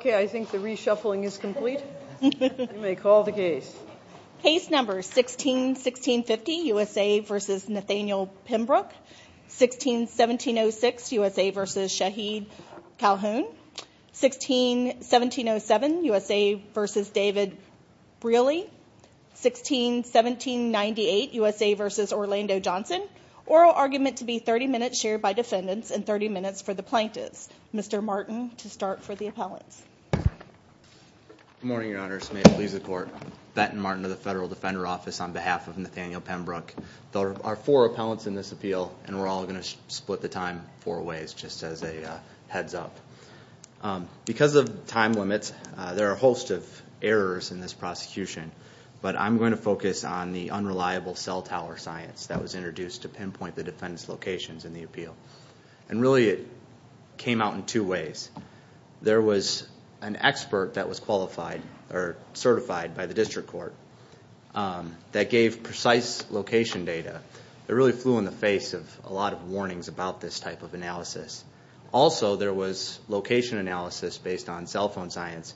16-1650 USA v. Nathaniel Pembrook16-1650 USA v. Nathaniel Pembrook16-1650 USA v. Nathaniel Pembrook16-1706 USA v. Shaeed Calhoun16-1707 USA v. David Briley16-1798 USA v. Orlando Johnson Oral argument to be 30 minutes shared by defendants and 30 minutes for the plaintiffs. Mr. Martin Good morning, Your Honors. May it please the Court. Benton Martin of the Federal Defender Office on behalf of Nathaniel Pembrook. There are four appellants in this appeal and we're all going to split the time four ways just as a heads up. Because of time limits, there are a host of errors in this prosecution, but I'm going to focus on the unreliable cell tower science that was introduced to pinpoint the defendants' locations in the appeal. And really it came out in two ways. There was an expert that was qualified or certified by the district court that gave precise location data. It really flew in the face of a lot of warnings about this type of analysis. Also, there was location analysis based on cell phone science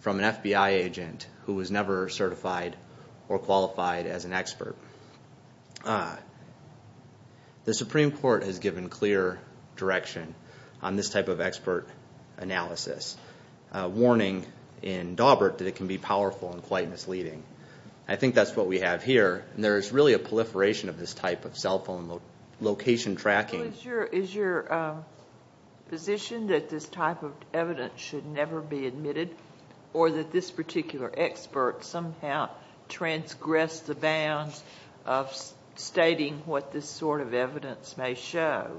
from an FBI agent who was never certified or qualified as an expert. The Supreme Court has given clear direction on this type of expert analysis. A warning in Dawbert that it can be powerful and quite misleading. I think that's what we have here. There is really a proliferation of this type of cell phone location tracking. Is your position that this type of evidence should never be admitted or that this particular expert somehow transgressed the bounds of stating what this sort of evidence may show?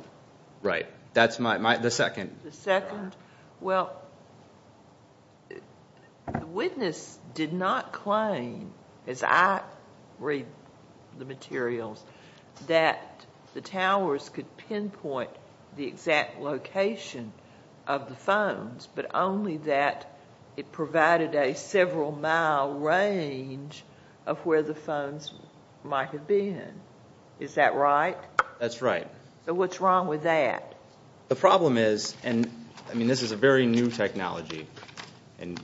Right. That's my, the second. The second? Well, the witness did not claim, as I read the materials, that the towers could pinpoint the exact location of the phones, but only that it provided a several mile range of where the phones might have been. Is that right? That's right. So what's wrong with that? The problem is, and this is a very new technology, and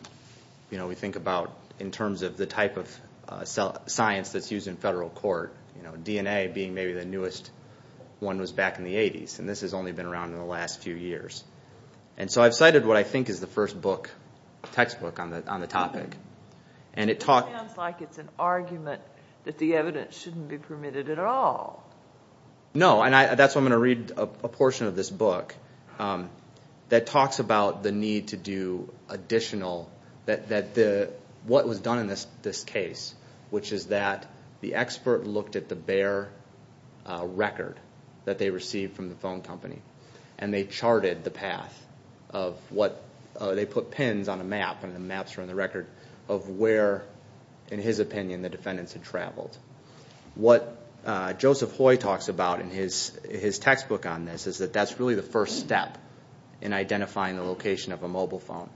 we think about in terms of the type of science that's used in federal court, DNA being maybe the newest one was back in the 80s, and this has only been around in the last few years. And so I've cited what I think is the first textbook on the topic. It sounds like it's an argument that the evidence shouldn't be permitted at all. No, and that's why I'm going to read a portion of this book that talks about the need to do additional, that what was done in this case, which is that the expert looked at the bare record that they received from the phone company and they charted the path of what they put pins on a map, and the maps are on the record, of where, in his opinion, the defendants had traveled. What Joseph Hoy talks about in his textbook on this is that that's really the first step in identifying the location of a mobile phone,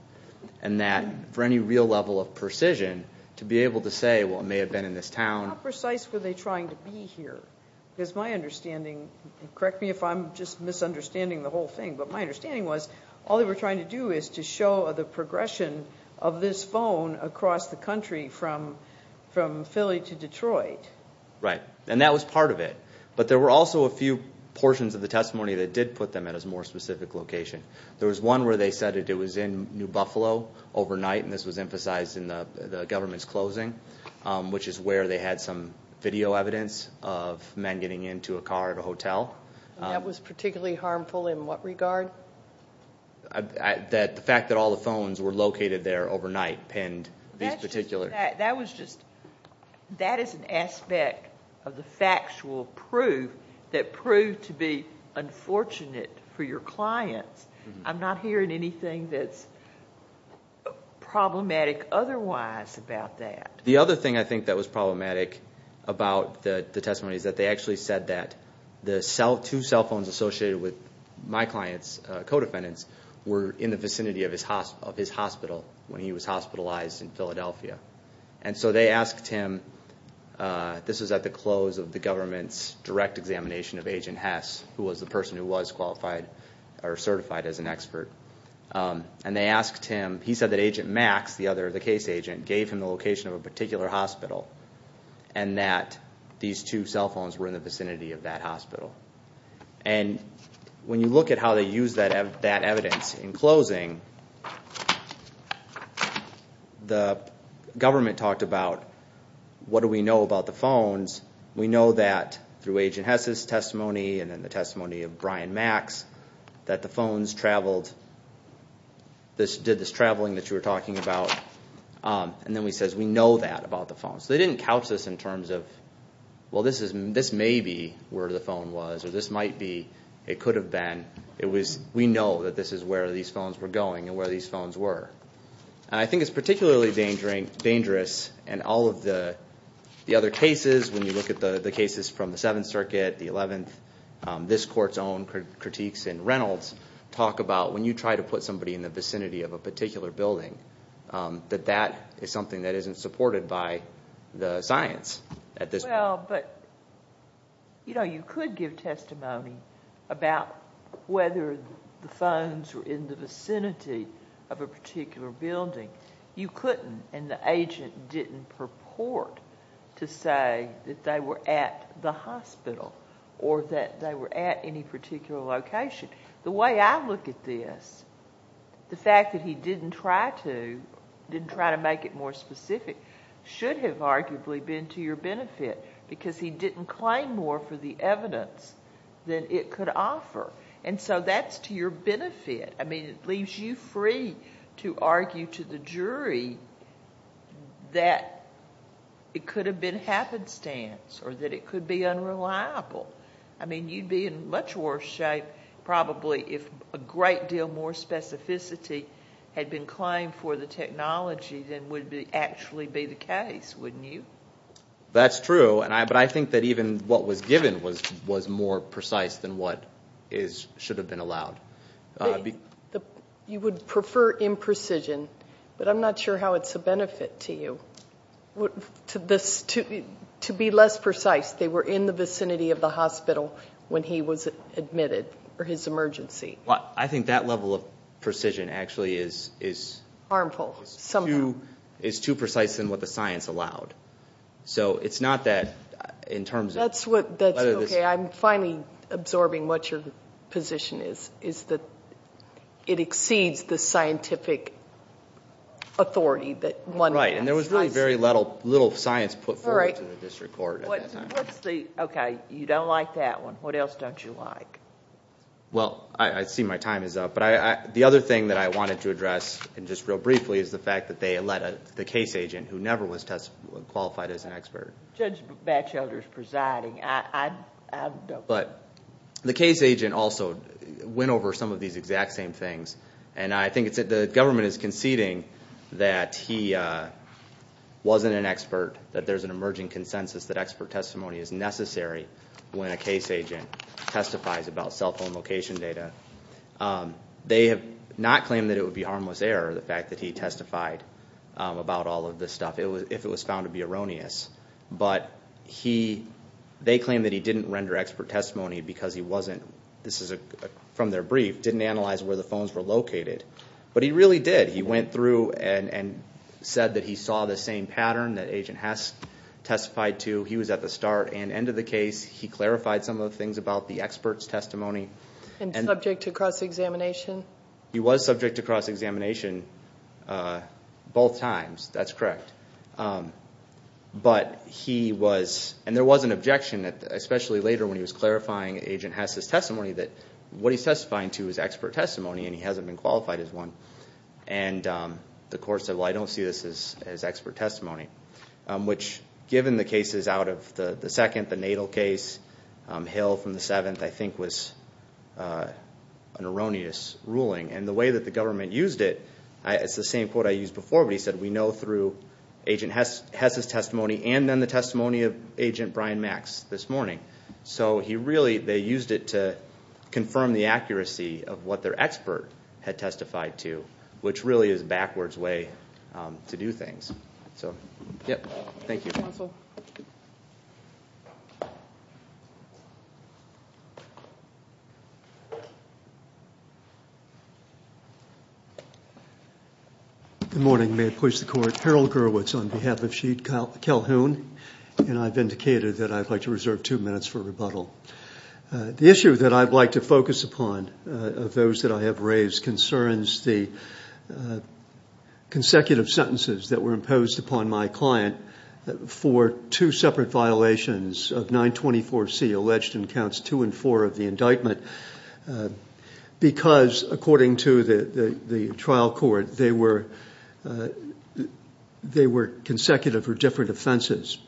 and that for any real level of precision, to be able to say, well, it may have been in this town. How precise were they trying to be here? Because my understanding, correct me if I'm just misunderstanding the whole thing, but my understanding was all they were trying to do is to show the progression of this phone across the country from Philly to Detroit. Right, and that was part of it. But there were also a few portions of the testimony that did put them at a more specific location. There was one where they said it was in New Buffalo overnight, and this was emphasized in the government's closing, which is where they had some video evidence of men getting into a car at a hotel. And that was particularly harmful in what regard? The fact that all the phones were located there overnight, pinned these particulars. That is an aspect of the factual proof that proved to be unfortunate for your clients. I'm not hearing anything that's problematic otherwise about that. The other thing I think that was problematic about the testimony is that they actually said that the two cell phones associated with my client's co-defendants were in the vicinity of his hospital when he was hospitalized in Philadelphia. And so they asked him, this was at the close of the government's direct examination of Agent Hess, who was the person who was qualified or certified as an expert. And they asked him, he said that Agent Max, the case agent, gave him the location of a particular hospital and that these two cell phones were in the vicinity of that hospital. And when you look at how they used that evidence in closing, the government talked about what do we know about the phones. We know that through Agent Hess' testimony and then the testimony of Brian Max, that the phones did this traveling that you were talking about. And then he says, we know that about the phones. So they didn't couch this in terms of, well, this may be where the phone was or this might be. It could have been. It was, we know that this is where these phones were going and where these phones were. I think it's particularly dangerous in all of the other cases. When you look at the cases from the Seventh Circuit, the Eleventh, this court's own critiques in Reynolds talk about when you try to put somebody in the vicinity of a particular building, that that is something that isn't supported by the science at this point. Well, but, you know, you could give testimony about whether the phones were in the vicinity of a particular building. You couldn't and the agent didn't purport to say that they were at the hospital or that they were at any particular location. The way I look at this, the fact that he didn't try to, didn't try to make it more specific, should have arguably been to your benefit because he didn't claim more for the evidence than it could offer. And so that's to your benefit. I mean, it leaves you free to argue to the jury that it could have been happenstance or that it could be unreliable. I mean, you'd be in much worse shape probably if a great deal more specificity had been claimed for the technology than would actually be the case, wouldn't you? That's true, but I think that even what was given was more precise than what should have been allowed. You would prefer imprecision, but I'm not sure how it's a benefit to you. To be less precise, they were in the vicinity of the hospital when he was admitted for his emergency. Well, I think that level of precision actually is too precise in what the science allowed. So it's not that in terms of whether this- That's okay. I'm finally absorbing what your position is, is that it exceeds the scientific authority that one has. Right, and there was really very little science put forward to the district court at that time. Okay, you don't like that one. What else don't you like? Well, I see my time is up, but the other thing that I wanted to address, and just real briefly, is the fact that they let the case agent, who never was qualified as an expert- Judge Batchelder is presiding. But the case agent also went over some of these exact same things, and I think the government is conceding that he wasn't an expert, that there's an emerging consensus that expert testimony is necessary when a case agent testifies about cell phone location data. They have not claimed that it would be harmless error, the fact that he testified about all of this stuff, if it was found to be erroneous. But they claim that he didn't render expert testimony because he wasn't- this is from their brief- didn't analyze where the phones were located. But he really did. He went through and said that he saw the same pattern that Agent Hess testified to. He was at the start and end of the case. He clarified some of the things about the expert's testimony. And subject to cross-examination? He was subject to cross-examination both times. That's correct. But he was- and there was an objection, especially later, when he was clarifying Agent Hess's testimony that what he's testifying to is expert testimony, and he hasn't been qualified as one. And the court said, well, I don't see this as expert testimony. Which, given the cases out of the second, the Natal case, Hill from the seventh, I think was an erroneous ruling. And the way that the government used it, it's the same quote I used before, but he said, we know through Agent Hess's testimony and then the testimony of Agent Brian Max this morning. So he really, they used it to confirm the accuracy of what their expert had testified to, which really is a backwards way to do things. So, yep. Thank you. Counsel. Good morning. May I please the court? Harold Gurwitz on behalf of Sheet Calhoun. And I've indicated that I'd like to reserve two minutes for rebuttal. The issue that I'd like to focus upon of those that I have raised concerns the consecutive sentences that were imposed upon my client for two separate violations of 924C, alleged in counts two and four of the indictment, because, according to the trial court, they were consecutive for different offenses.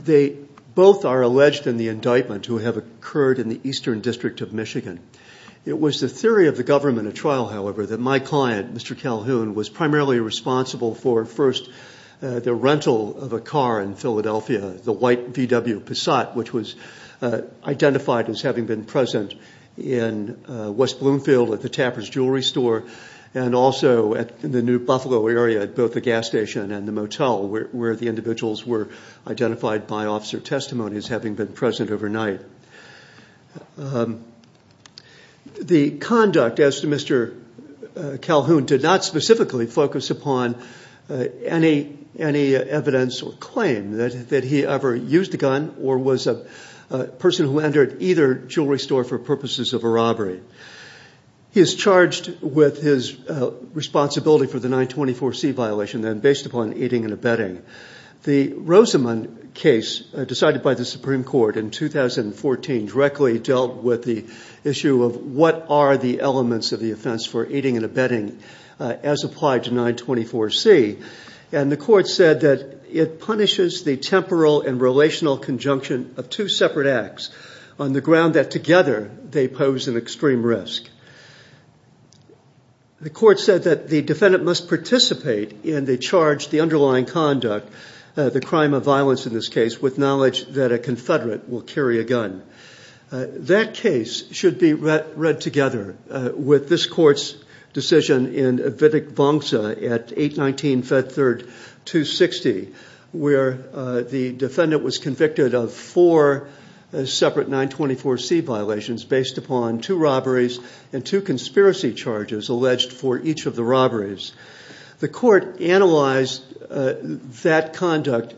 They both are alleged in the indictment to have occurred in the Eastern District of Michigan. It was the theory of the government at trial, however, that my client, Mr. Calhoun, was primarily responsible for first the rental of a car in Philadelphia, the white VW Passat, which was identified as having been present in West Bloomfield at the Tapper's Jewelry Store and also in the New Buffalo area at both the gas station and the motel where the individuals were identified by officer testimonies having been present overnight. The conduct as to Mr. Calhoun did not specifically focus upon any evidence or claim that he ever used a gun or was a person who entered either jewelry store for purposes of a robbery. He is charged with his responsibility for the 924C violation, then, based upon aiding and abetting. The Rosamond case decided by the Supreme Court in 2014 directly dealt with the issue of what are the elements of the offense for aiding and abetting as applied to 924C, and the court said that it punishes the temporal and relational conjunction of two separate acts on the ground that together they pose an extreme risk. The court said that the defendant must participate in the charge, the underlying conduct, the crime of violence in this case, with knowledge that a Confederate will carry a gun. That case should be read together with this court's decision in Wittig-Wangsa at 8-19-5-3-2-60, where the defendant was convicted of four separate 924C violations based upon two robberies and two conspiracy charges alleged for each of the robberies. The court analyzed that conduct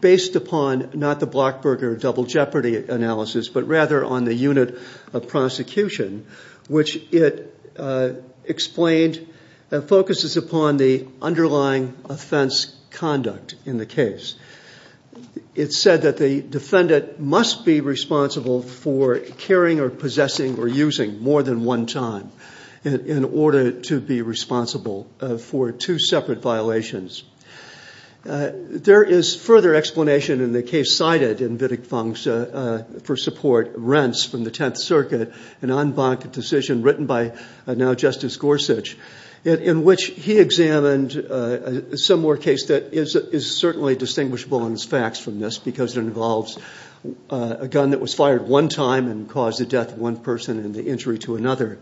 based upon not the Blockberger double jeopardy analysis, but rather on the unit of prosecution, which it explained focuses upon the underlying offense conduct in the case. It said that the defendant must be responsible for carrying or possessing or using more than one time in order to be responsible for two separate violations. There is further explanation in the case cited in Wittig-Wangsa for support, Rents from the Tenth Circuit, an en banc decision written by now Justice Gorsuch, in which he examined a similar case that is certainly distinguishable in its facts from this because it involves a gun that was fired one time and caused the death of one person and the injury to another.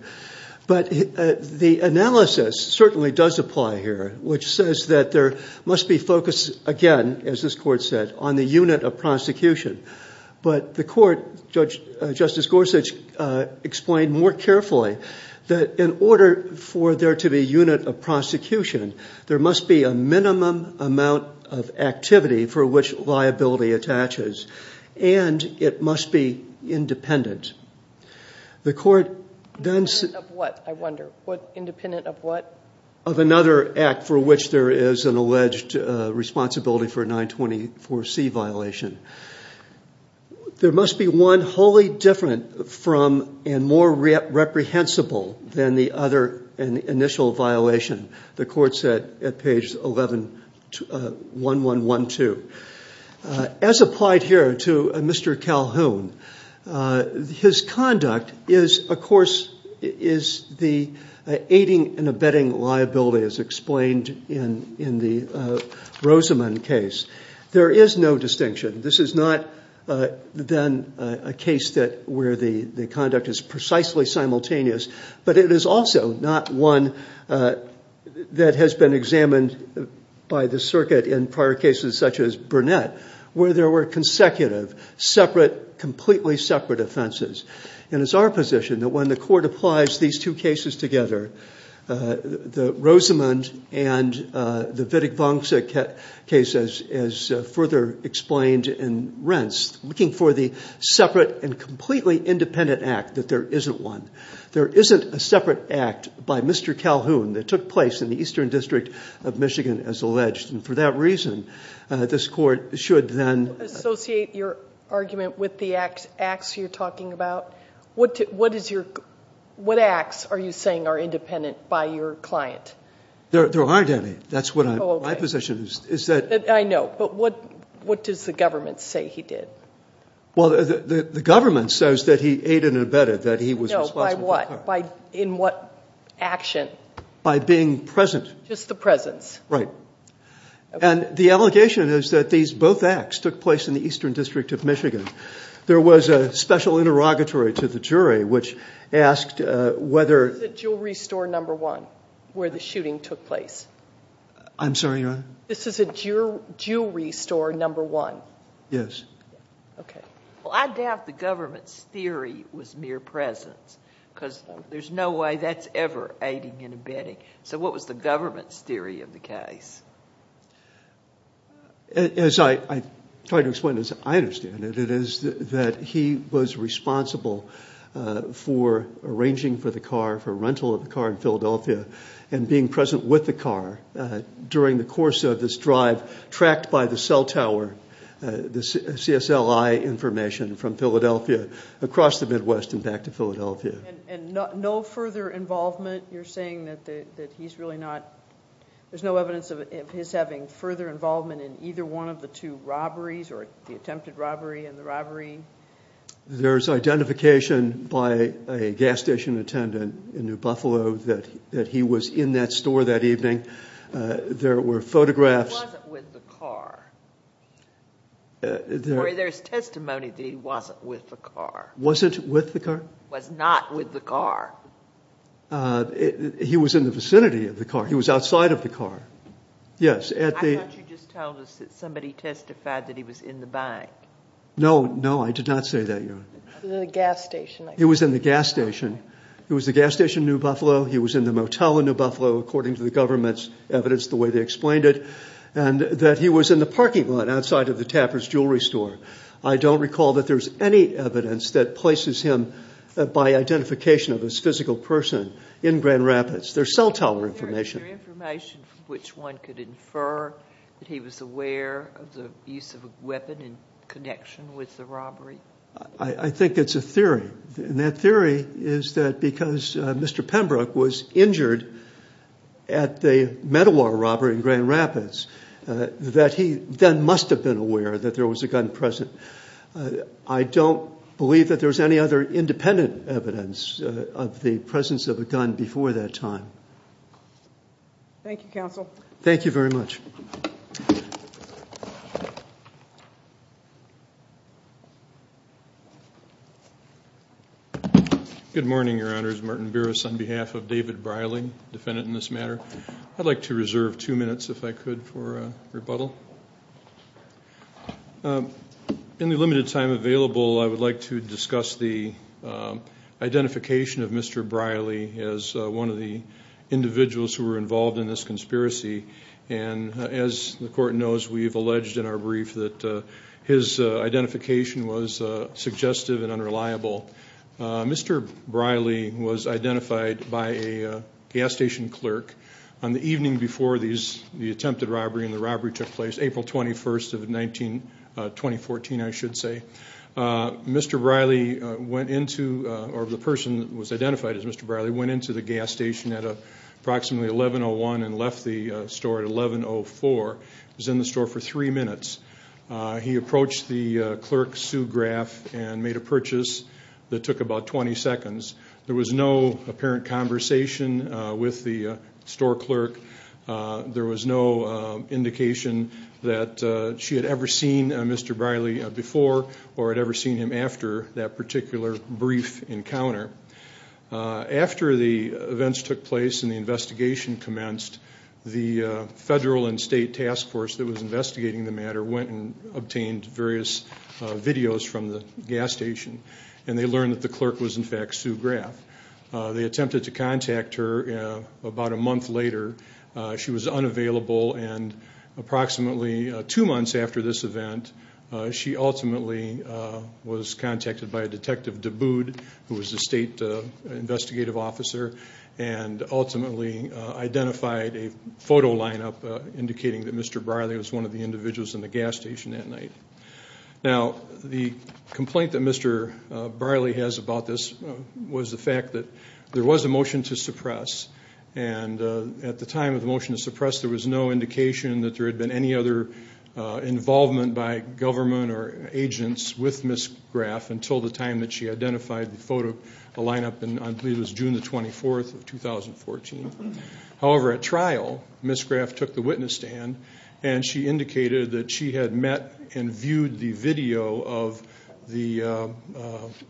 But the analysis certainly does apply here, which says that there must be focus, again, as this court said, on the unit of prosecution. But the court, Justice Gorsuch, explained more carefully that in order for there to be unit of prosecution, there must be a minimum amount of activity for which liability attaches, and it must be independent. The court then said... Independent of what, I wonder? Independent of what? Of another act for which there is an alleged responsibility for a 924C violation. There must be one wholly different from and more reprehensible than the other initial violation, the court said at page 1112. As applied here to Mr. Calhoun, his conduct is, of course, is the aiding and abetting liability, as explained in the Rosamond case. There is no distinction. This is not, then, a case where the conduct is precisely simultaneous, but it is also not one that has been examined by the circuit in prior cases such as Burnett, where there were consecutive, separate, completely separate offenses. And it's our position that when the court applies these two cases together, the Rosamond and the Wittig-Wangsa cases is further explained in Rents, looking for the separate and completely independent act that there isn't one. There isn't a separate act by Mr. Calhoun that took place in the Eastern District of Michigan, as alleged. And for that reason, this court should then... Associate your argument with the acts you're talking about. What acts are you saying are independent by your client? There aren't any. That's what my position is. I know, but what does the government say he did? Well, the government says that he aided and abetted, that he was responsible. No, by what? In what action? By being present. Just the presence. Right. And the allegation is that these both acts took place in the Eastern District of Michigan. There was a special interrogatory to the jury, which asked whether... This is at Jewelry Store No. 1, where the shooting took place. I'm sorry, Your Honor? This is at Jewelry Store No. 1. Yes. Okay. Well, I doubt the government's theory was mere presence, because there's no way that's ever aiding and abetting. So what was the government's theory of the case? As I try to explain, as I understand it, it is that he was responsible for arranging for the car, for rental of the car in Philadelphia, and being present with the car during the course of this drive, tracked by the cell tower, the CSLI information from Philadelphia across the Midwest and back to Philadelphia. And no further involvement? You're saying that he's really not... There's no evidence of his having further involvement in either one of the two robberies, or the attempted robbery and the robbery? There's identification by a gas station attendant in New Buffalo that he was in that store that evening. There were photographs... He wasn't with the car. There's testimony that he wasn't with the car. Wasn't with the car? Was not with the car. He was in the vicinity of the car. He was outside of the car. Yes. I thought you just told us that somebody testified that he was in the bank. No, no, I did not say that, Your Honor. The gas station. He was in the gas station. He was in the gas station in New Buffalo. He was in the motel in New Buffalo, according to the government's evidence the way they explained it, and that he was in the parking lot outside of the Tapper's jewelry store. I don't recall that there's any evidence that places him by identification of his physical person in Grand Rapids. There's cell tower information. Is there information from which one could infer that he was aware of the use of a weapon in connection with the robbery? I think it's a theory. And that theory is that because Mr. Pembroke was injured at the Meadowar robbery in Grand Rapids, that he then must have been aware that there was a gun present. I don't believe that there's any other independent evidence of the presence of a gun before that time. Thank you, counsel. Thank you very much. Good morning, Your Honors. Martin Burris on behalf of David Briley, defendant in this matter. I'd like to reserve two minutes, if I could, for a rebuttal. In the limited time available, I would like to discuss the identification of Mr. Briley as one of the individuals who were involved in this conspiracy. As the Court knows, we've alleged in our brief that his identification was suggestive and unreliable. Mr. Briley was identified by a gas station clerk on the evening before the attempted robbery, and the robbery took place April 21st of 2014, I should say. Mr. Briley went into, or the person that was identified as Mr. Briley, went into the gas station at approximately 1101 and left the store at 1104. He was in the store for three minutes. He approached the clerk, Sue Graff, and made a purchase that took about 20 seconds. There was no apparent conversation with the store clerk. There was no indication that she had ever seen Mr. Briley before or had ever seen him after that particular brief encounter. After the events took place and the investigation commenced, the federal and state task force that was investigating the matter went and obtained various videos from the gas station, and they learned that the clerk was in fact Sue Graff. They attempted to contact her about a month later. She was unavailable, and approximately two months after this event, she ultimately was contacted by Detective Duboud, who was the state investigative officer, and ultimately identified a photo lineup indicating that Mr. Briley was one of the individuals in the gas station that night. Now, the complaint that Mr. Briley has about this was the fact that there was a motion to suppress, and at the time of the motion to suppress, there was no indication that there had been any other involvement by government or agents with Ms. Graff until the time that she identified the photo lineup, and I believe it was June 24, 2014. However, at trial, Ms. Graff took the witness stand, and she indicated that she had met and viewed the video of the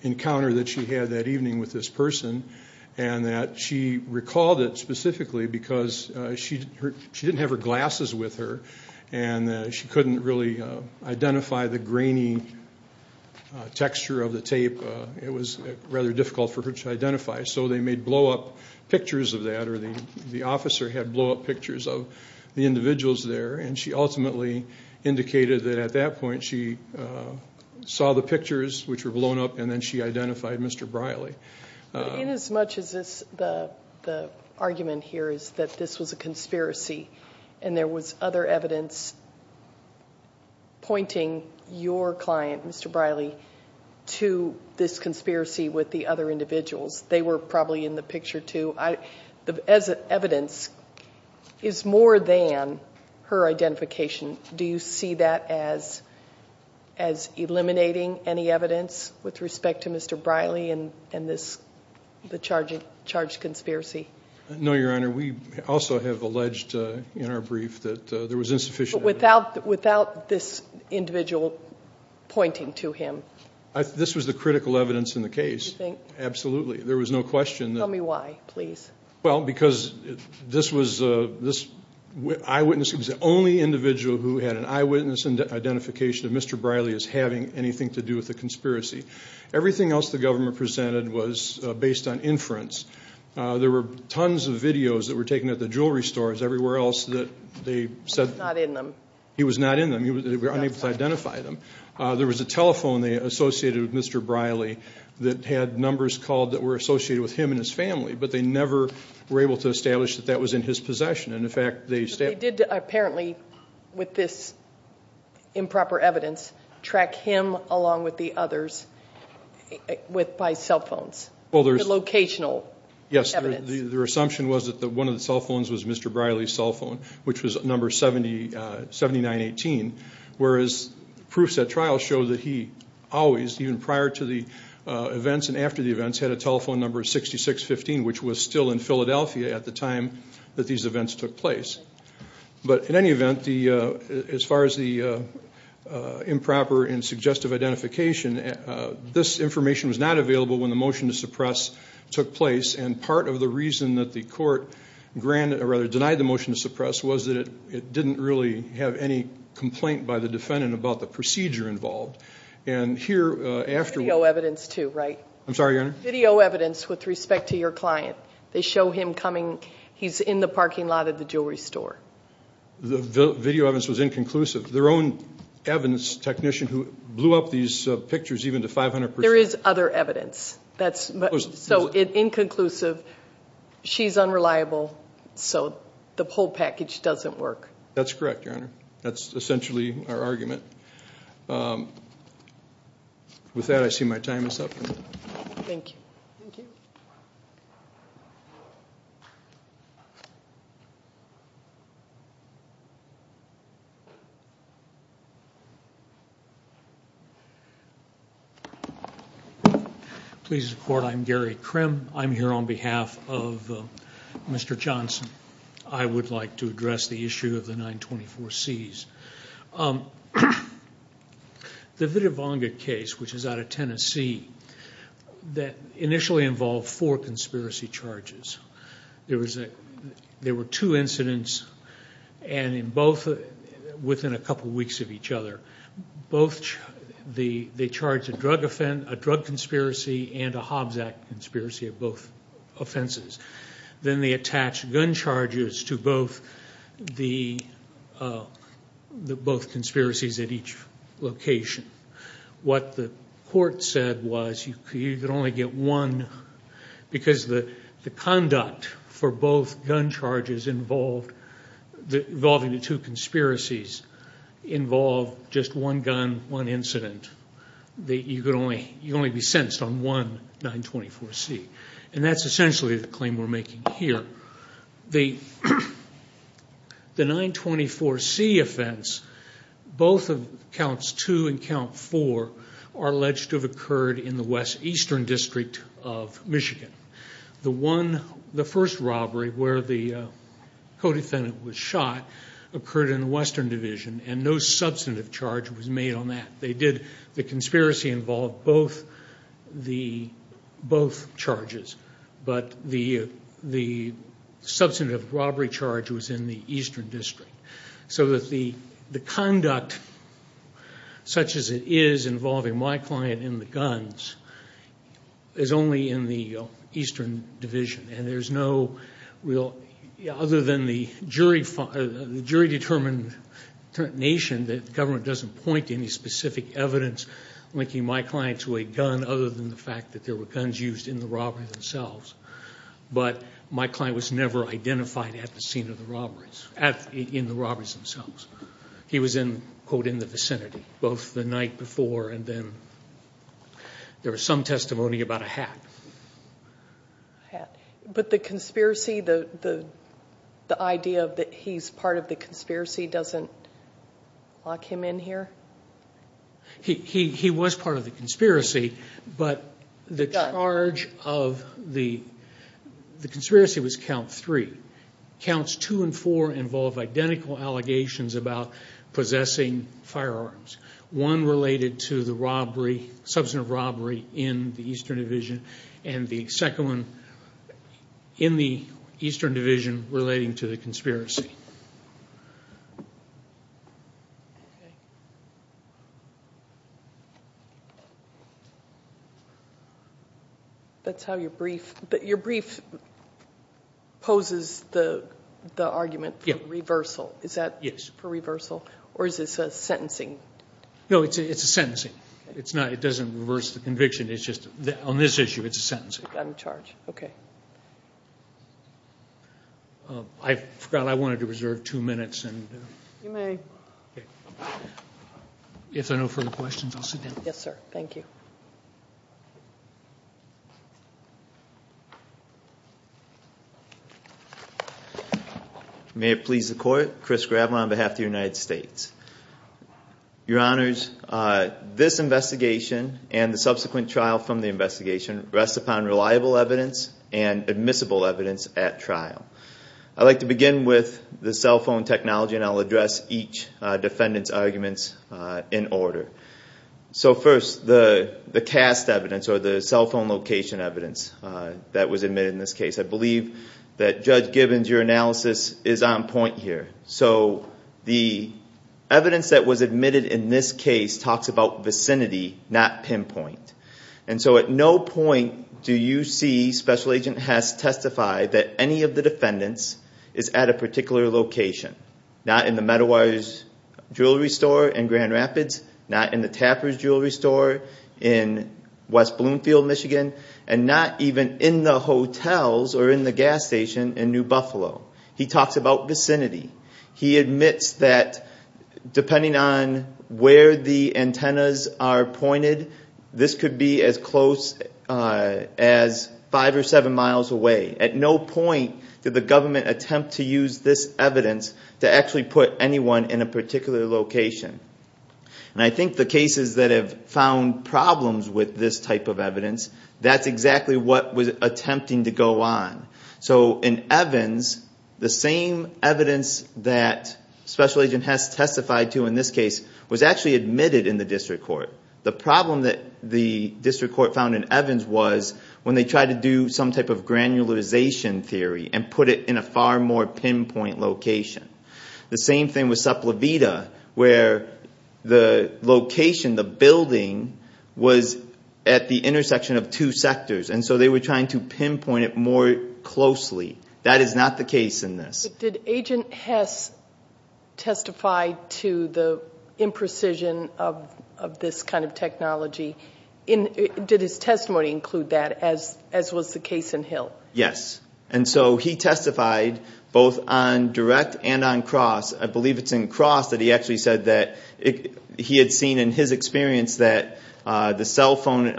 encounter that she had that evening with this person, and that she recalled it specifically because she didn't have her glasses with her, and she couldn't really identify the grainy texture of the tape. It was rather difficult for her to identify, so they made blow-up pictures of that, or the officer had blow-up pictures of the individuals there, and she ultimately indicated that at that point she saw the pictures, which were blown up, and then she identified Mr. Briley. Inasmuch as the argument here is that this was a conspiracy and there was other evidence pointing your client, Mr. Briley, to this conspiracy with the other individuals, they were probably in the picture, too, as evidence is more than her identification. Do you see that as eliminating any evidence with respect to Mr. Briley and the charged conspiracy? No, Your Honor. We also have alleged in our brief that there was insufficient evidence. But without this individual pointing to him? This was the critical evidence in the case. You think? Absolutely. There was no question. Tell me why, please. Well, because this eyewitness was the only individual who had an eyewitness identification of Mr. Briley as having anything to do with the conspiracy. Everything else the government presented was based on inference. There were tons of videos that were taken at the jewelry stores everywhere else that they said he was not in them. They were unable to identify them. There was a telephone they associated with Mr. Briley that had numbers called that were associated with him and his family, but they never were able to establish that that was in his possession. But they did apparently, with this improper evidence, track him along with the others by cell phones, the locational evidence. Yes. Their assumption was that one of the cell phones was Mr. Briley's cell phone, which was number 7918, whereas proofs at trial show that he always, even prior to the events and after the events, had a telephone number 6615, which was still in Philadelphia at the time that these events took place. But in any event, as far as the improper and suggestive identification, this information was not available when the motion to suppress took place, and part of the reason that the court denied the motion to suppress was that it didn't really have any complaint by the defendant about the procedure involved. Video evidence, too, right? I'm sorry, Your Honor? Video evidence with respect to your client. They show him coming. He's in the parking lot of the jewelry store. The video evidence was inconclusive. Their own evidence technician who blew up these pictures even to 500 percent. There is other evidence. So inconclusive. She's unreliable, so the whole package doesn't work. That's correct, Your Honor. That's essentially our argument. With that, I see my time is up. Thank you. Please report. I'm Gary Krim. I'm here on behalf of Mr. Johnson. I would like to address the issue of the 924Cs. The Vitivonga case, which is out of Tennessee, that initially involved four conspiracy charges. There were two incidents, and in both, within a couple weeks of each other, they charged a drug offense, a drug conspiracy, and a Hobbs Act conspiracy of both offenses. Then they attached gun charges to both conspiracies at each location. What the court said was you could only get one, because the conduct for both gun charges involving the two conspiracies involved just one gun, one incident. You could only be sentenced on one 924C. That's essentially the claim we're making here. The 924C offense, both of counts two and count four, are alleged to have occurred in the West Eastern District of Michigan. The first robbery where the co-defendant was shot occurred in the Western Division, and no substantive charge was made on that. The conspiracy involved both charges, but the substantive robbery charge was in the Eastern District. The conduct, such as it is involving my client in the guns, is only in the Eastern Division. Other than the jury-determined nation, the government doesn't point to any specific evidence linking my client to a gun, other than the fact that there were guns used in the robbery themselves. But my client was never identified at the scene of the robberies, in the robberies themselves. He was in the vicinity, both the night before and then. There was some testimony about a hat. But the idea that he's part of the conspiracy doesn't lock him in here? He was part of the conspiracy, but the charge of the conspiracy was count three. Counts two and four involve identical allegations about possessing firearms. One related to the substantive robbery in the Eastern Division, and the second one in the Eastern Division relating to the conspiracy. Your brief poses the argument for reversal. Is that for reversal, or is this a sentencing? No, it's a sentencing. It doesn't reverse the conviction. On this issue, it's a sentencing. Okay. I forgot I wanted to read the question. You may. If there are no further questions, I'll sit down. Yes, sir. Thank you. May it please the Court, Chris Gravel on behalf of the United States. Your Honors, this investigation and the subsequent trial from the investigation rests upon reliable evidence and admissible evidence at trial. I'd like to begin with the cell phone technology, and I'll address each defendant's arguments in order. First, the cast evidence or the cell phone location evidence that was admitted in this case. I believe that Judge Gibbons, your analysis is on point here. The evidence that was admitted in this case talks about vicinity, not pinpoint. At no point do you see Special Agent Hess testify that any of the defendants is at a particular location, not in the Meadowires Jewelry Store in Grand Rapids, not in the Tapper's Jewelry Store in West Bloomfield, Michigan, and not even in the hotels or in the gas station in New Buffalo. He talks about vicinity. He admits that depending on where the antennas are pointed, this could be as close as five or seven miles away. At no point did the government attempt to use this evidence to actually put anyone in a particular location. And I think the cases that have found problems with this type of evidence, that's exactly what was attempting to go on. So in Evans, the same evidence that Special Agent Hess testified to in this case was actually admitted in the district court. The problem that the district court found in Evans was when they tried to do some type of granularization theory and put it in a far more pinpoint location. The same thing with Supla Vida, where the location, the building, was at the intersection of two sectors, and so they were trying to pinpoint it more closely. That is not the case in this. Did Agent Hess testify to the imprecision of this kind of technology? Did his testimony include that, as was the case in Hill? Yes. And so he testified both on direct and on cross. I believe it's in cross that he actually said that he had seen in his experience that the cell phone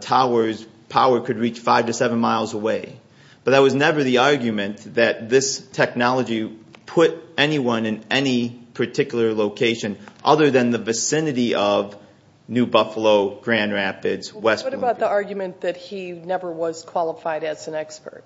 tower's power could reach five to seven miles away. But that was never the argument that this technology put anyone in any particular location other than the vicinity of New Buffalo, Grand Rapids, West Bloomfield. What about the argument that he never was qualified as an expert?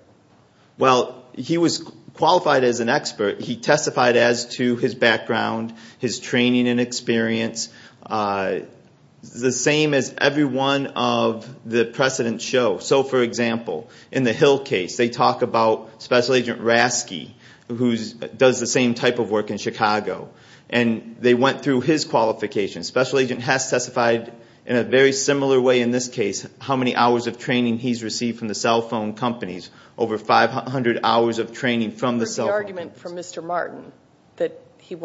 Well, he was qualified as an expert. He testified as to his background, his training and experience, the same as every one of the precedents show. So, for example, in the Hill case, they talk about Special Agent Rasky, who does the same type of work in Chicago, and they went through his qualifications. Special Agent Hess testified in a very similar way in this case, how many hours of training he's received from the cell phone companies, Was there an argument from Mr. Martin that he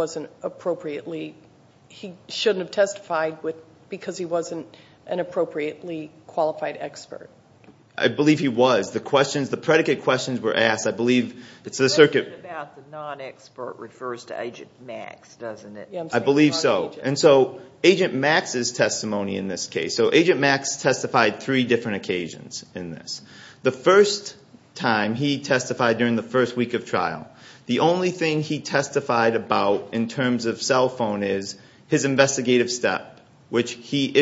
shouldn't have testified because he wasn't an appropriately qualified expert? I believe he was. The questions, the predicate questions were asked, I believe. The question about the non-expert refers to Agent Max, doesn't it? I believe so. And so Agent Max's testimony in this case. So Agent Max testified three different occasions in this. The first time, he testified during the first week of trial. The only thing he testified about in terms of cell phone is his investigative step, which he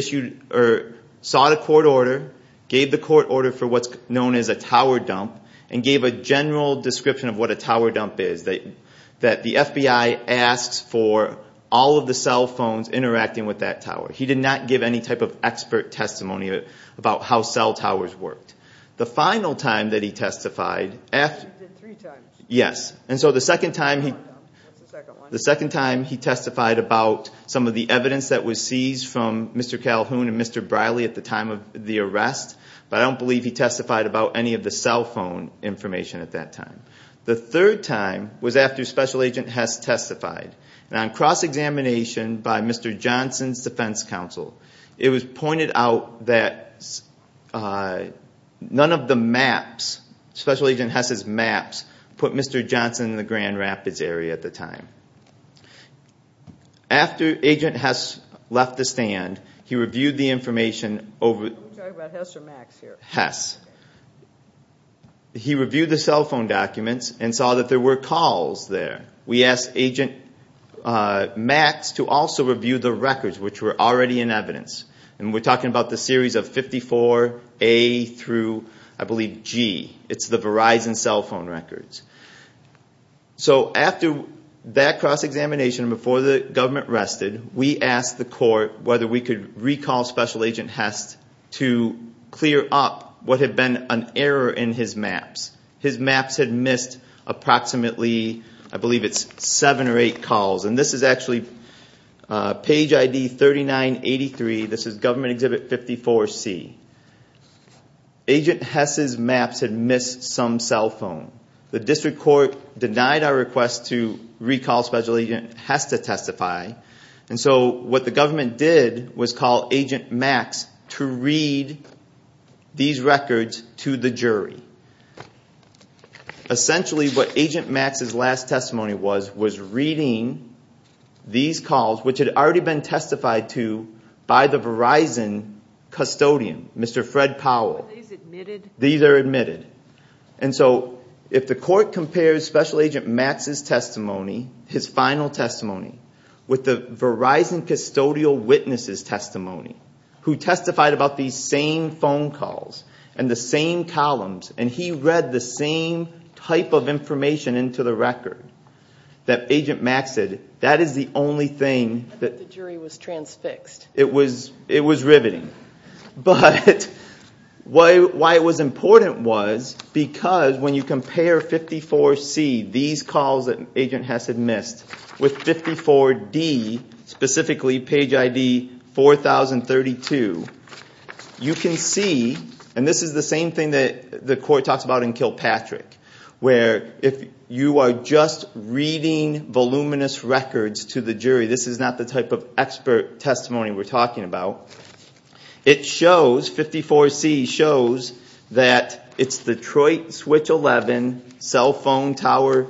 sought a court order, gave the court order for what's known as a tower dump, and gave a general description of what a tower dump is, that the FBI asks for all of the cell phones interacting with that tower. He did not give any type of expert testimony about how cell towers worked. The final time that he testified. He did three times. Yes. And so the second time he testified about some of the evidence that was seized from Mr. Calhoun and Mr. Briley at the time of the arrest, but I don't believe he testified about any of the cell phone information at that time. The third time was after Special Agent Hess testified. On cross-examination by Mr. Johnson's defense counsel, it was pointed out that none of the maps, Special Agent Hess's maps, put Mr. Johnson in the Grand Rapids area at the time. After Agent Hess left the stand, he reviewed the information over at Hess. He reviewed the cell phone documents and saw that there were calls there. We asked Agent Max to also review the records, which were already in evidence. And we're talking about the series of 54A through, I believe, G. It's the Verizon cell phone records. So after that cross-examination, before the government rested, we asked the court whether we could recall Special Agent Hess to clear up what had been an error in his maps. His maps had missed approximately, I believe it's seven or eight calls. And this is actually page ID 3983. This is Government Exhibit 54C. Agent Hess's maps had missed some cell phone. The district court denied our request to recall Special Agent Hess to testify. And so what the government did was call Agent Max to read these records to the jury. Essentially what Agent Max's last testimony was, was reading these calls, which had already been testified to by the Verizon custodian, Mr. Fred Powell. These are admitted. And so if the court compares Special Agent Max's testimony, his final testimony, with the Verizon custodial witness's testimony, who testified about these same phone calls and the same columns, and he read the same type of information into the record that Agent Max did, that is the only thing that- I bet the jury was transfixed. It was riveting. But why it was important was because when you compare 54C, these calls that Agent Hess had missed, with 54D, specifically page ID 4032, you can see, and this is the same thing that the court talks about in Kilpatrick, where if you are just reading voluminous records to the jury, this is not the type of expert testimony we're talking about, it shows, 54C shows, that it's Detroit Switch 11, cell phone tower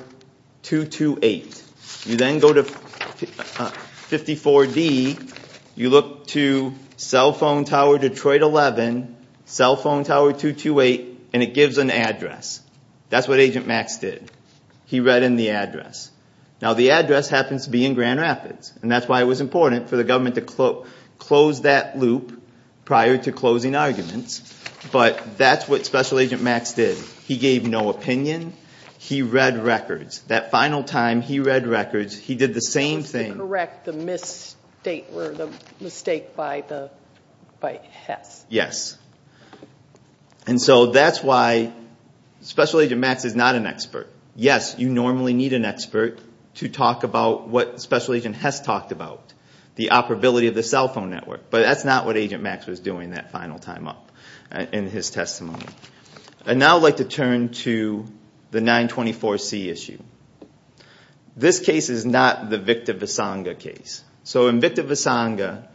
228. You then go to 54D, you look to cell phone tower Detroit 11, cell phone tower 228, and it gives an address. That's what Agent Max did. He read in the address. Now the address happens to be in Grand Rapids, and that's why it was important for the government to close that loop prior to closing arguments, but that's what Special Agent Max did. He gave no opinion. He read records. That final time he read records, he did the same thing. He was to correct the mistake by Hess. Yes. And so that's why Special Agent Max is not an expert. Yes, you normally need an expert to talk about what Special Agent Hess talked about, the operability of the cell phone network, but that's not what Agent Max was doing that final time up in his testimony. I'd now like to turn to the 924C issue. This case is not the Victor Visanga case. So in Victor Visanga,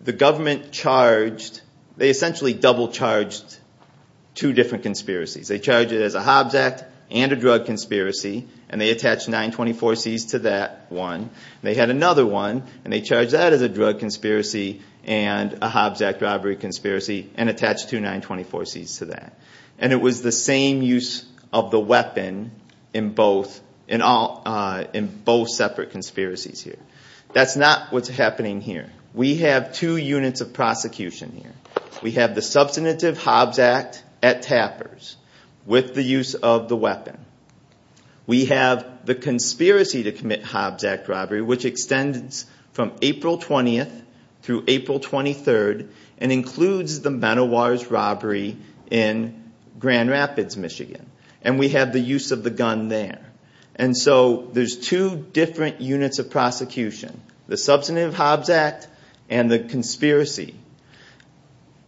the government charged, they essentially double charged two different conspiracies. They charged it as a Hobbs Act and a drug conspiracy, and they attached 924Cs to that one. They had another one, and they charged that as a drug conspiracy and a Hobbs Act robbery conspiracy and attached two 924Cs to that. And it was the same use of the weapon in both separate conspiracies here. That's not what's happening here. We have two units of prosecution here. We have the substantive Hobbs Act at Tapper's with the use of the weapon. We have the conspiracy to commit Hobbs Act robbery, which extends from April 20th through April 23rd and includes the Benoist robbery in Grand Rapids, Michigan. And we have the use of the gun there. And so there's two different units of prosecution, the substantive Hobbs Act and the conspiracy.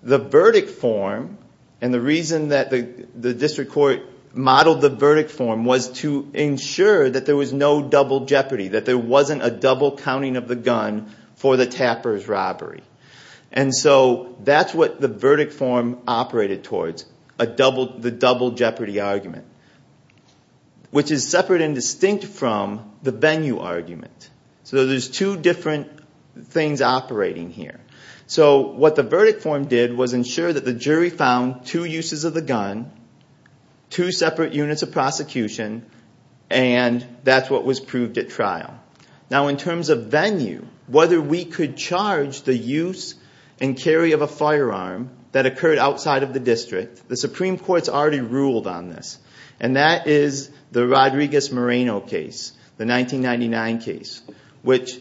The verdict form and the reason that the district court modeled the verdict form was to ensure that there was no double jeopardy, that there wasn't a double counting of the gun for the Tapper's robbery. And so that's what the verdict form operated towards, the double jeopardy argument, which is separate and distinct from the Bennu argument. So there's two different things operating here. So what the verdict form did was ensure that the jury found two uses of the gun, two separate units of prosecution, and that's what was proved at trial. Now in terms of Bennu, whether we could charge the use and carry of a firearm that occurred outside of the district, the Supreme Court's already ruled on this. And that is the Rodriguez-Moreno case, the 1999 case, which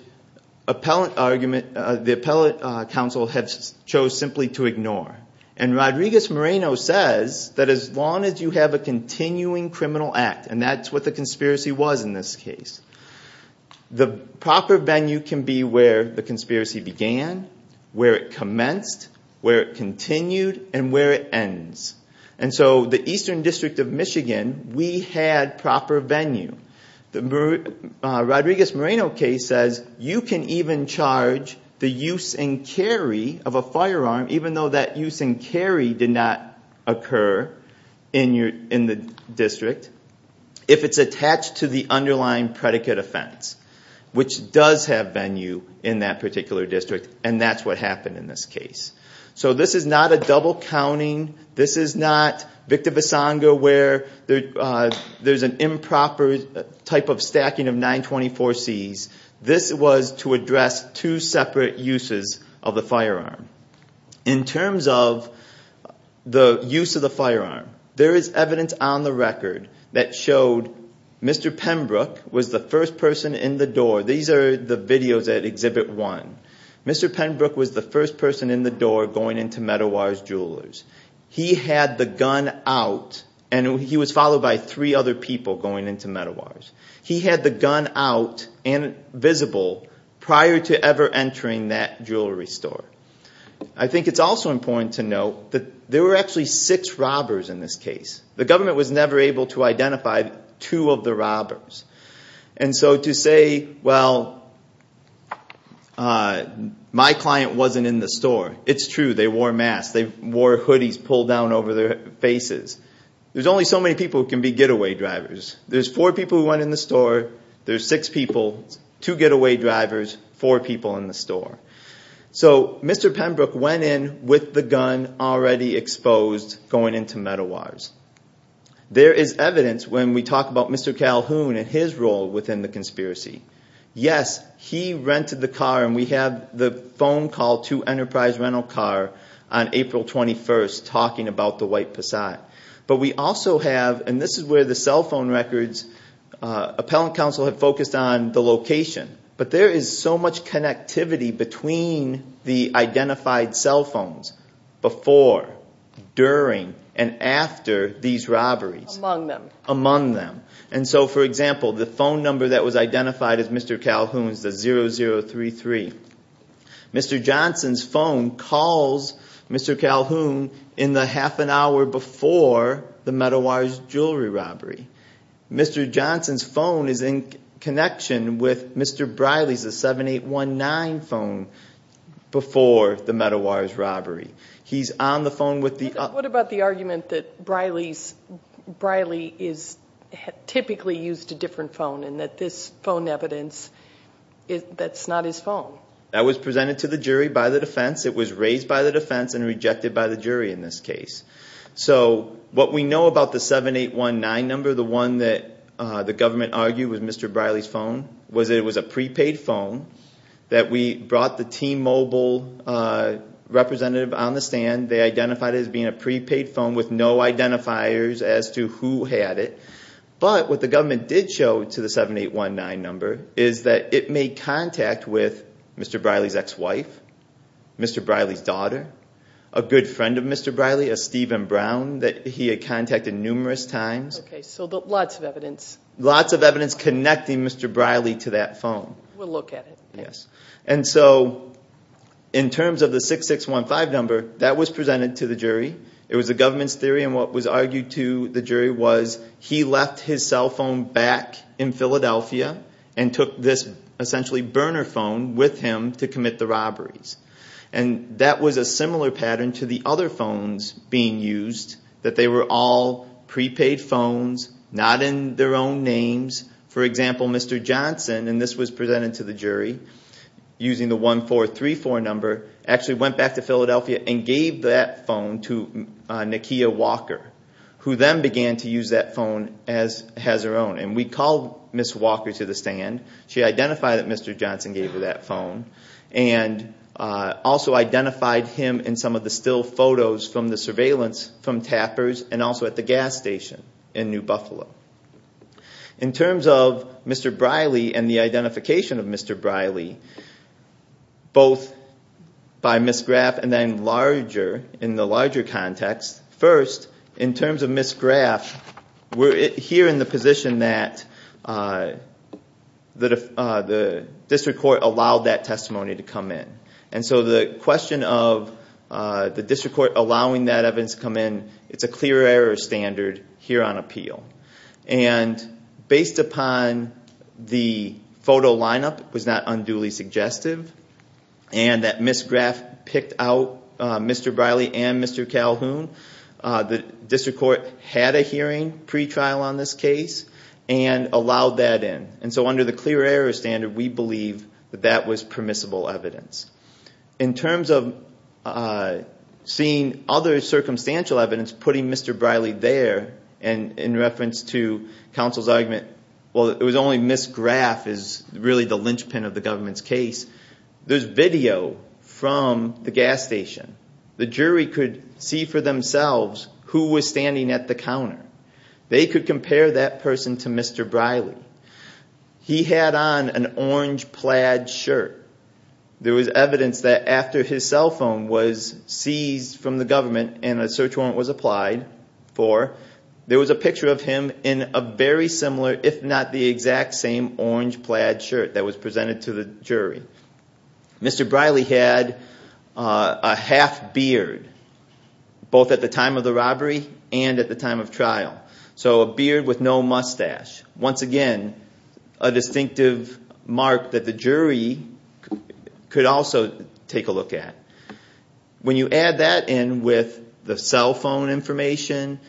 the appellate counsel chose simply to ignore. And Rodriguez-Moreno says that as long as you have a continuing criminal act, and that's what the conspiracy was in this case, the proper Bennu can be where the conspiracy began, where it commenced, where it continued, and where it ends. And so the Eastern District of Michigan, we had proper Bennu. The Rodriguez-Moreno case says you can even charge the use and carry of a firearm, even though that use and carry did not occur in the district, if it's attached to the underlying predicate offense, which does have Bennu in that particular district, and that's what happened in this case. So this is not a double counting. This is not Victor Visanga where there's an improper type of stacking of 924Cs. This was to address two separate uses of the firearm. In terms of the use of the firearm, there is evidence on the record that showed Mr. Penbrook was the first person in the door. These are the videos at Exhibit 1. Mr. Penbrook was the first person in the door going into Meadowar's Jewelers. He had the gun out, and he was followed by three other people going into Meadowar's. He had the gun out and visible prior to ever entering that jewelry store. I think it's also important to note that there were actually six robbers in this case. The government was never able to identify two of the robbers. So to say, well, my client wasn't in the store, it's true. They wore masks. They wore hoodies pulled down over their faces. There's only so many people who can be getaway drivers. There's four people who went in the store. There's six people, two getaway drivers, four people in the store. So Mr. Penbrook went in with the gun already exposed going into Meadowar's. There is evidence when we talk about Mr. Calhoun and his role within the conspiracy. Yes, he rented the car, and we have the phone call to Enterprise Rental Car on April 21st talking about the White Passat. But we also have, and this is where the cell phone records, Appellant Counsel had focused on the location. But there is so much connectivity between the identified cell phones before, during, and after these robberies. Among them. Among them. And so, for example, the phone number that was identified as Mr. Calhoun is 0033. Mr. Johnson's phone calls Mr. Calhoun in the half an hour before the Meadowar's jewelry robbery. Mr. Johnson's phone is in connection with Mr. Briley's, the 7819 phone, before the Meadowar's robbery. He's on the phone with the- What about the argument that Briley is typically used a different phone and that this phone evidence, that's not his phone? That was presented to the jury by the defense. It was raised by the defense and rejected by the jury in this case. So what we know about the 7819 number, the one that the government argued was Mr. Briley's phone, was that it was a prepaid phone that we brought the T-Mobile representative on the stand. They identified it as being a prepaid phone with no identifiers as to who had it. But what the government did show to the 7819 number is that it made contact with Mr. Briley's ex-wife, Mr. Briley's daughter, a good friend of Mr. Briley, a Stephen Brown that he had contacted numerous times. Okay, so lots of evidence. Lots of evidence connecting Mr. Briley to that phone. We'll look at it. Yes. And so in terms of the 6615 number, that was presented to the jury. It was the government's theory and what was argued to the jury was he left his cell phone back in Philadelphia and took this essentially burner phone with him to commit the robberies. And that was a similar pattern to the other phones being used, that they were all prepaid phones, not in their own names. For example, Mr. Johnson, and this was presented to the jury using the 1434 number, actually went back to Philadelphia and gave that phone to Nakia Walker, who then began to use that phone as her own. And we called Ms. Walker to the stand. She identified that Mr. Johnson gave her that phone and also identified him in some of the still photos from the surveillance from Tappers and also at the gas station in New Buffalo. In terms of Mr. Briley and the identification of Mr. Briley, both by Ms. Graff and then larger, in the larger context, first, in terms of Ms. Graff, we're here in the position that the district court allowed that testimony to come in. And so the question of the district court allowing that evidence to come in, it's a clear error standard here on appeal. And based upon the photo lineup was not unduly suggestive and that Ms. Graff picked out Mr. Briley and Mr. Calhoun, the district court had a hearing pretrial on this case and allowed that in. And so under the clear error standard, we believe that that was permissible evidence. In terms of seeing other circumstantial evidence putting Mr. Briley there, and in reference to counsel's argument, well, it was only Ms. Graff is really the linchpin of the government's case, there's video from the gas station. The jury could see for themselves who was standing at the counter. They could compare that person to Mr. Briley. He had on an orange plaid shirt. There was evidence that after his cell phone was seized from the government and a search warrant was applied for, there was a picture of him in a very similar, if not the exact same, orange plaid shirt that was presented to the jury. Mr. Briley had a half beard, both at the time of the robbery and at the time of trial. So a beard with no mustache. Once again, a distinctive mark that the jury could also take a look at. When you add that in with the cell phone information,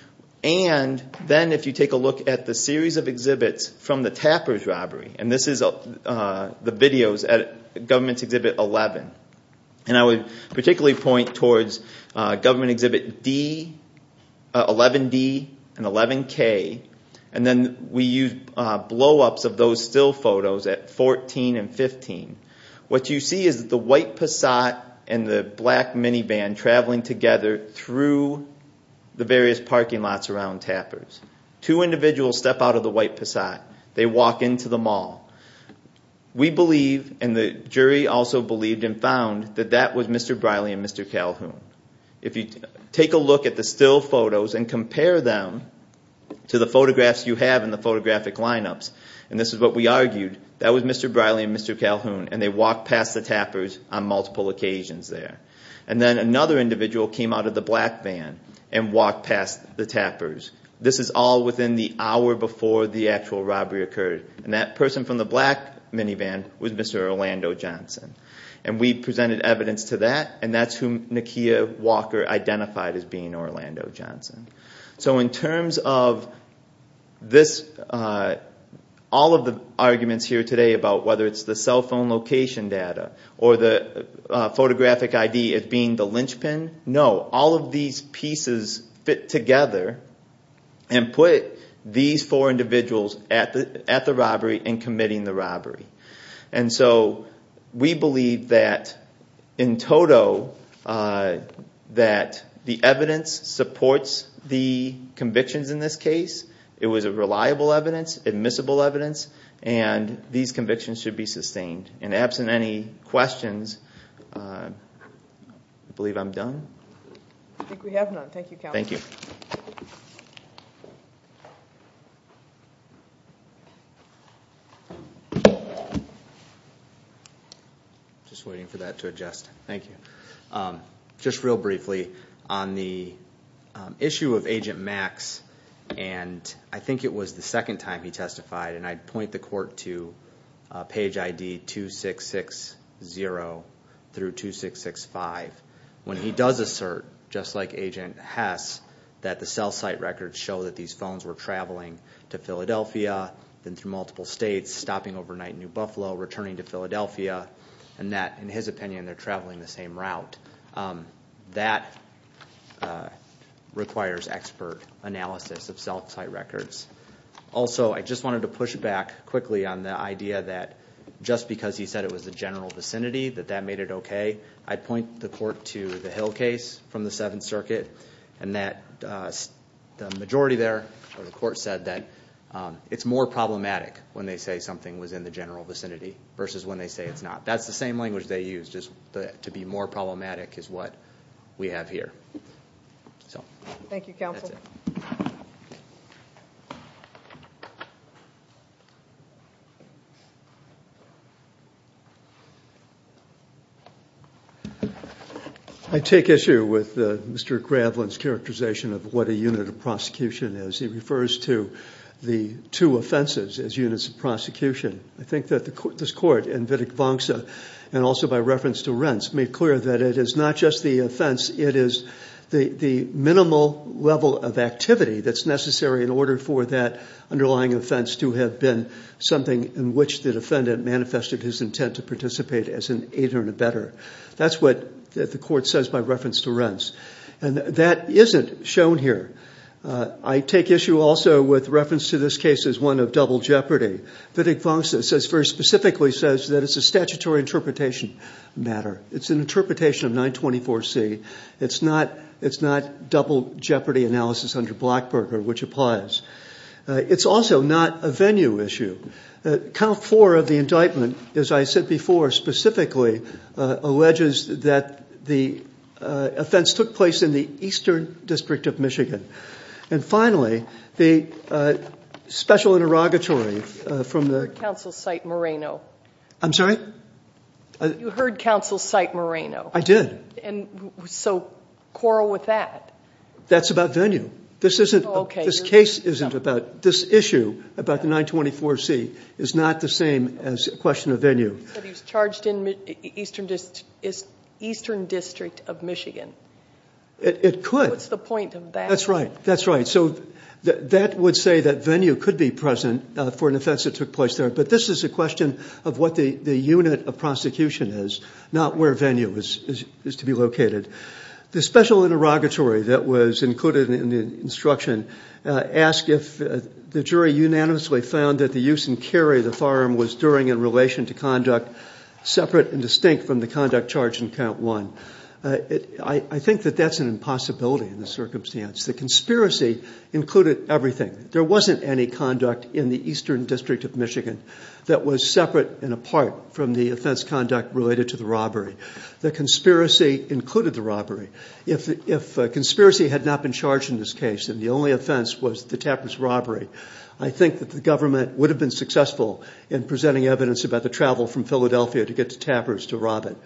and then if you take a look at the series of exhibits from the Tapper's robbery, and this is the videos at Government Exhibit 11, and I would particularly point towards Government Exhibit 11D and 11K, and then we use blow-ups of those still photos at 14 and 15. What you see is the white Passat and the black minivan traveling together through the various parking lots around Tapper's. Two individuals step out of the white Passat. They walk into the mall. We believe, and the jury also believed and found, that that was Mr. Briley and Mr. Calhoun. If you take a look at the still photos and compare them to the photographs you have in the photographic lineups, and this is what we argued, that was Mr. Briley and Mr. Calhoun, and they walked past the Tapper's on multiple occasions there. And then another individual came out of the black van and walked past the Tapper's. This is all within the hour before the actual robbery occurred, and that person from the black minivan was Mr. Orlando Johnson. And we presented evidence to that, and that's who Nakia Walker identified as being Orlando Johnson. So in terms of this, all of the arguments here today about whether it's the cell phone location data or the photographic ID as being the linchpin, no. All of these pieces fit together and put these four individuals at the robbery and committing the robbery. And so we believe that in total that the evidence supports the convictions in this case. It was a reliable evidence, admissible evidence, and these convictions should be sustained. And absent any questions, I believe I'm done. I think we have none. Thank you, Counselor. Thank you. Just waiting for that to adjust. Thank you. Just real briefly, on the issue of Agent Max, and I think it was the second time he testified, and I'd point the court to page ID 2660 through 2665. When he does assert, just like Agent Hess, that the cell site records show that these phones were traveling to Philadelphia, then through multiple states, stopping overnight in New Buffalo, returning to Philadelphia, and that, in his opinion, they're traveling the same route. That requires expert analysis of cell site records. Also, I just wanted to push back quickly on the idea that just because he said it was the general vicinity, that that made it okay, I'd point the court to the Hill case from the Seventh Circuit, and that the majority there, the court said that it's more problematic when they say something was in the general vicinity versus when they say it's not. That's the same language they used, to be more problematic is what we have here. Thank you, Counselor. I take issue with Mr. Gravlin's characterization of what a unit of prosecution is. He refers to the two offenses as units of prosecution. I think that this court, in Wittig-Wangsa, and also by reference to Rents, that it is not just the offense, it is the minimal level of activity that's necessary in order for that underlying offense to have been something in which the defendant manifested his intent to participate as an aider and abetter. That's what the court says by reference to Rents, and that isn't shown here. I take issue also with reference to this case as one of double jeopardy. Wittig-Wangsa very specifically says that it's a statutory interpretation matter. It's an interpretation of 924C. It's not double jeopardy analysis under Blackburger, which applies. It's also not a venue issue. Count 4 of the indictment, as I said before, specifically alleges that the offense took place in the Eastern District of Michigan. And finally, the special interrogatory from the- You heard counsel cite Moreno. I'm sorry? You heard counsel cite Moreno. I did. So quarrel with that. That's about venue. This case isn't about-this issue about the 924C is not the same as a question of venue. But he's charged in Eastern District of Michigan. It could. What's the point of that? That's right. That's right. So that would say that venue could be present for an offense that took place there. But this is a question of what the unit of prosecution is, not where venue is to be located. The special interrogatory that was included in the instruction asked if the jury unanimously found that the use and carry of the firearm was during in relation to conduct separate and distinct from the conduct charged in Count 1. I think that that's an impossibility in this circumstance. The conspiracy included everything. There wasn't any conduct in the Eastern District of Michigan that was separate and apart from the offense conduct related to the robbery. The conspiracy included the robbery. If conspiracy had not been charged in this case and the only offense was the Tappers robbery, I think that the government would have been successful in presenting evidence about the travel from Philadelphia to get to Tappers to rob it.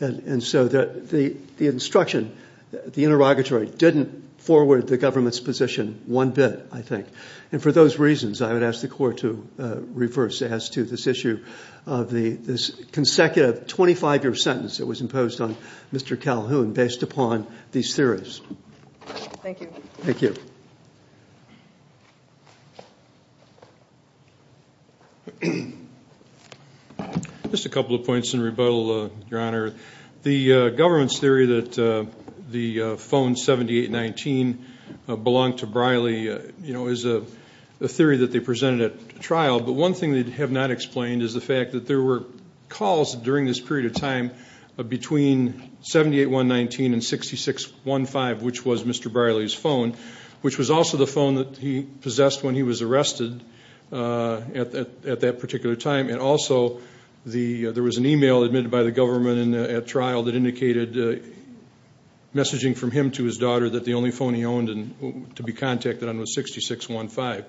And so the instruction, the interrogatory didn't forward the government's position one bit, I think. And for those reasons, I would ask the court to reverse as to this issue of this consecutive 25-year sentence that was imposed on Mr. Calhoun based upon these theories. Thank you. Thank you. Just a couple of points in rebuttal, Your Honor. The government's theory that the phone 7819 belonged to Briley, you know, is a theory that they presented at trial. But one thing they have not explained is the fact that there were calls during this period of time between 78119 and 6615, which was Mr. Briley's phone, which was also the phone that he possessed when he was arrested at that particular time. And also there was an e-mail admitted by the government at trial that indicated messaging from him to his daughter that the only phone he owned to be contacted on was 6615.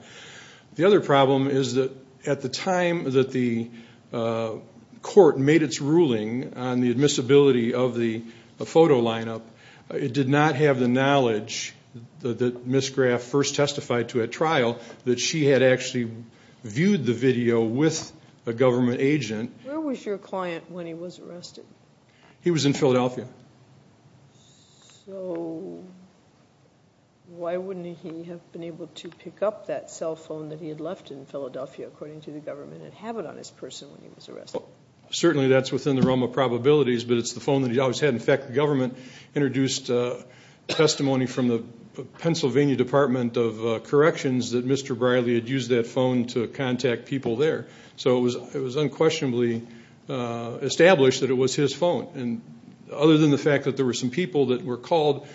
The other problem is that at the time that the court made its ruling on the admissibility of the photo lineup, it did not have the knowledge that Ms. Graff first testified to at trial that she had actually viewed the video with a government agent. Where was your client when he was arrested? He was in Philadelphia. So why wouldn't he have been able to pick up that cell phone that he had left in Philadelphia, according to the government, and have it on his person when he was arrested? Certainly that's within the realm of probabilities, but it's the phone that he always had. In fact, the government introduced testimony from the Pennsylvania Department of Corrections that Mr. Briley had used that phone to contact people there. So it was unquestionably established that it was his phone. And other than the fact that there were some people that were called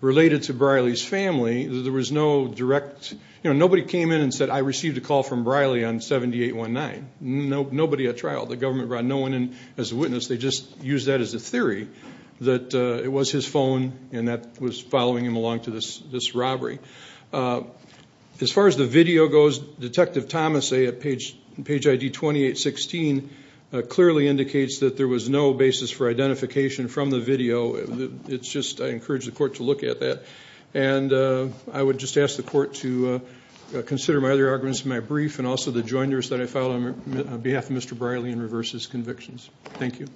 related to Briley's family, there was no direct – nobody came in and said, I received a call from Briley on 7819. Nobody at trial. The government brought no one in as a witness. They just used that as a theory that it was his phone and that was following him along to this robbery. As far as the video goes, Detective Thomas, at page ID 2816, clearly indicates that there was no basis for identification from the video. It's just I encourage the court to look at that. And I would just ask the court to consider my other arguments in my brief and also the joiners that I filed on behalf of Mr. Briley in reverse of his convictions. Thank you.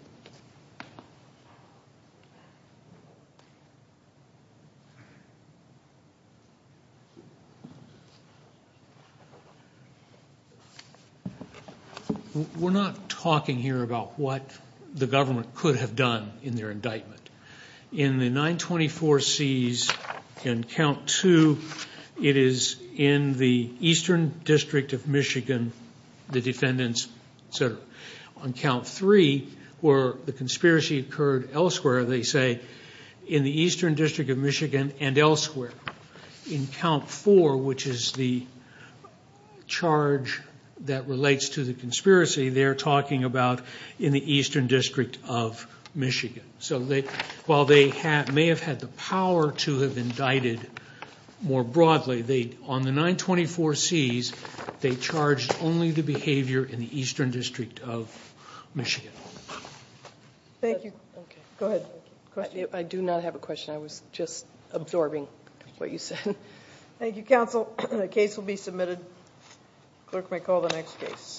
We're not talking here about what the government could have done in their indictment. In the 924Cs in Count 2, it is in the Eastern District of Michigan, the defendants, etc. On Count 3, where the conspiracy occurred elsewhere, they say in the Eastern District of Michigan and elsewhere. In Count 4, which is the charge that relates to the conspiracy, they're talking about in the Eastern District of Michigan. While they may have had the power to have indicted more broadly, on the 924Cs, they charged only the behavior in the Eastern District of Michigan. Thank you. Go ahead. I do not have a question. I was just absorbing what you said. Thank you, counsel. The case will be submitted. Clerk may call the next case.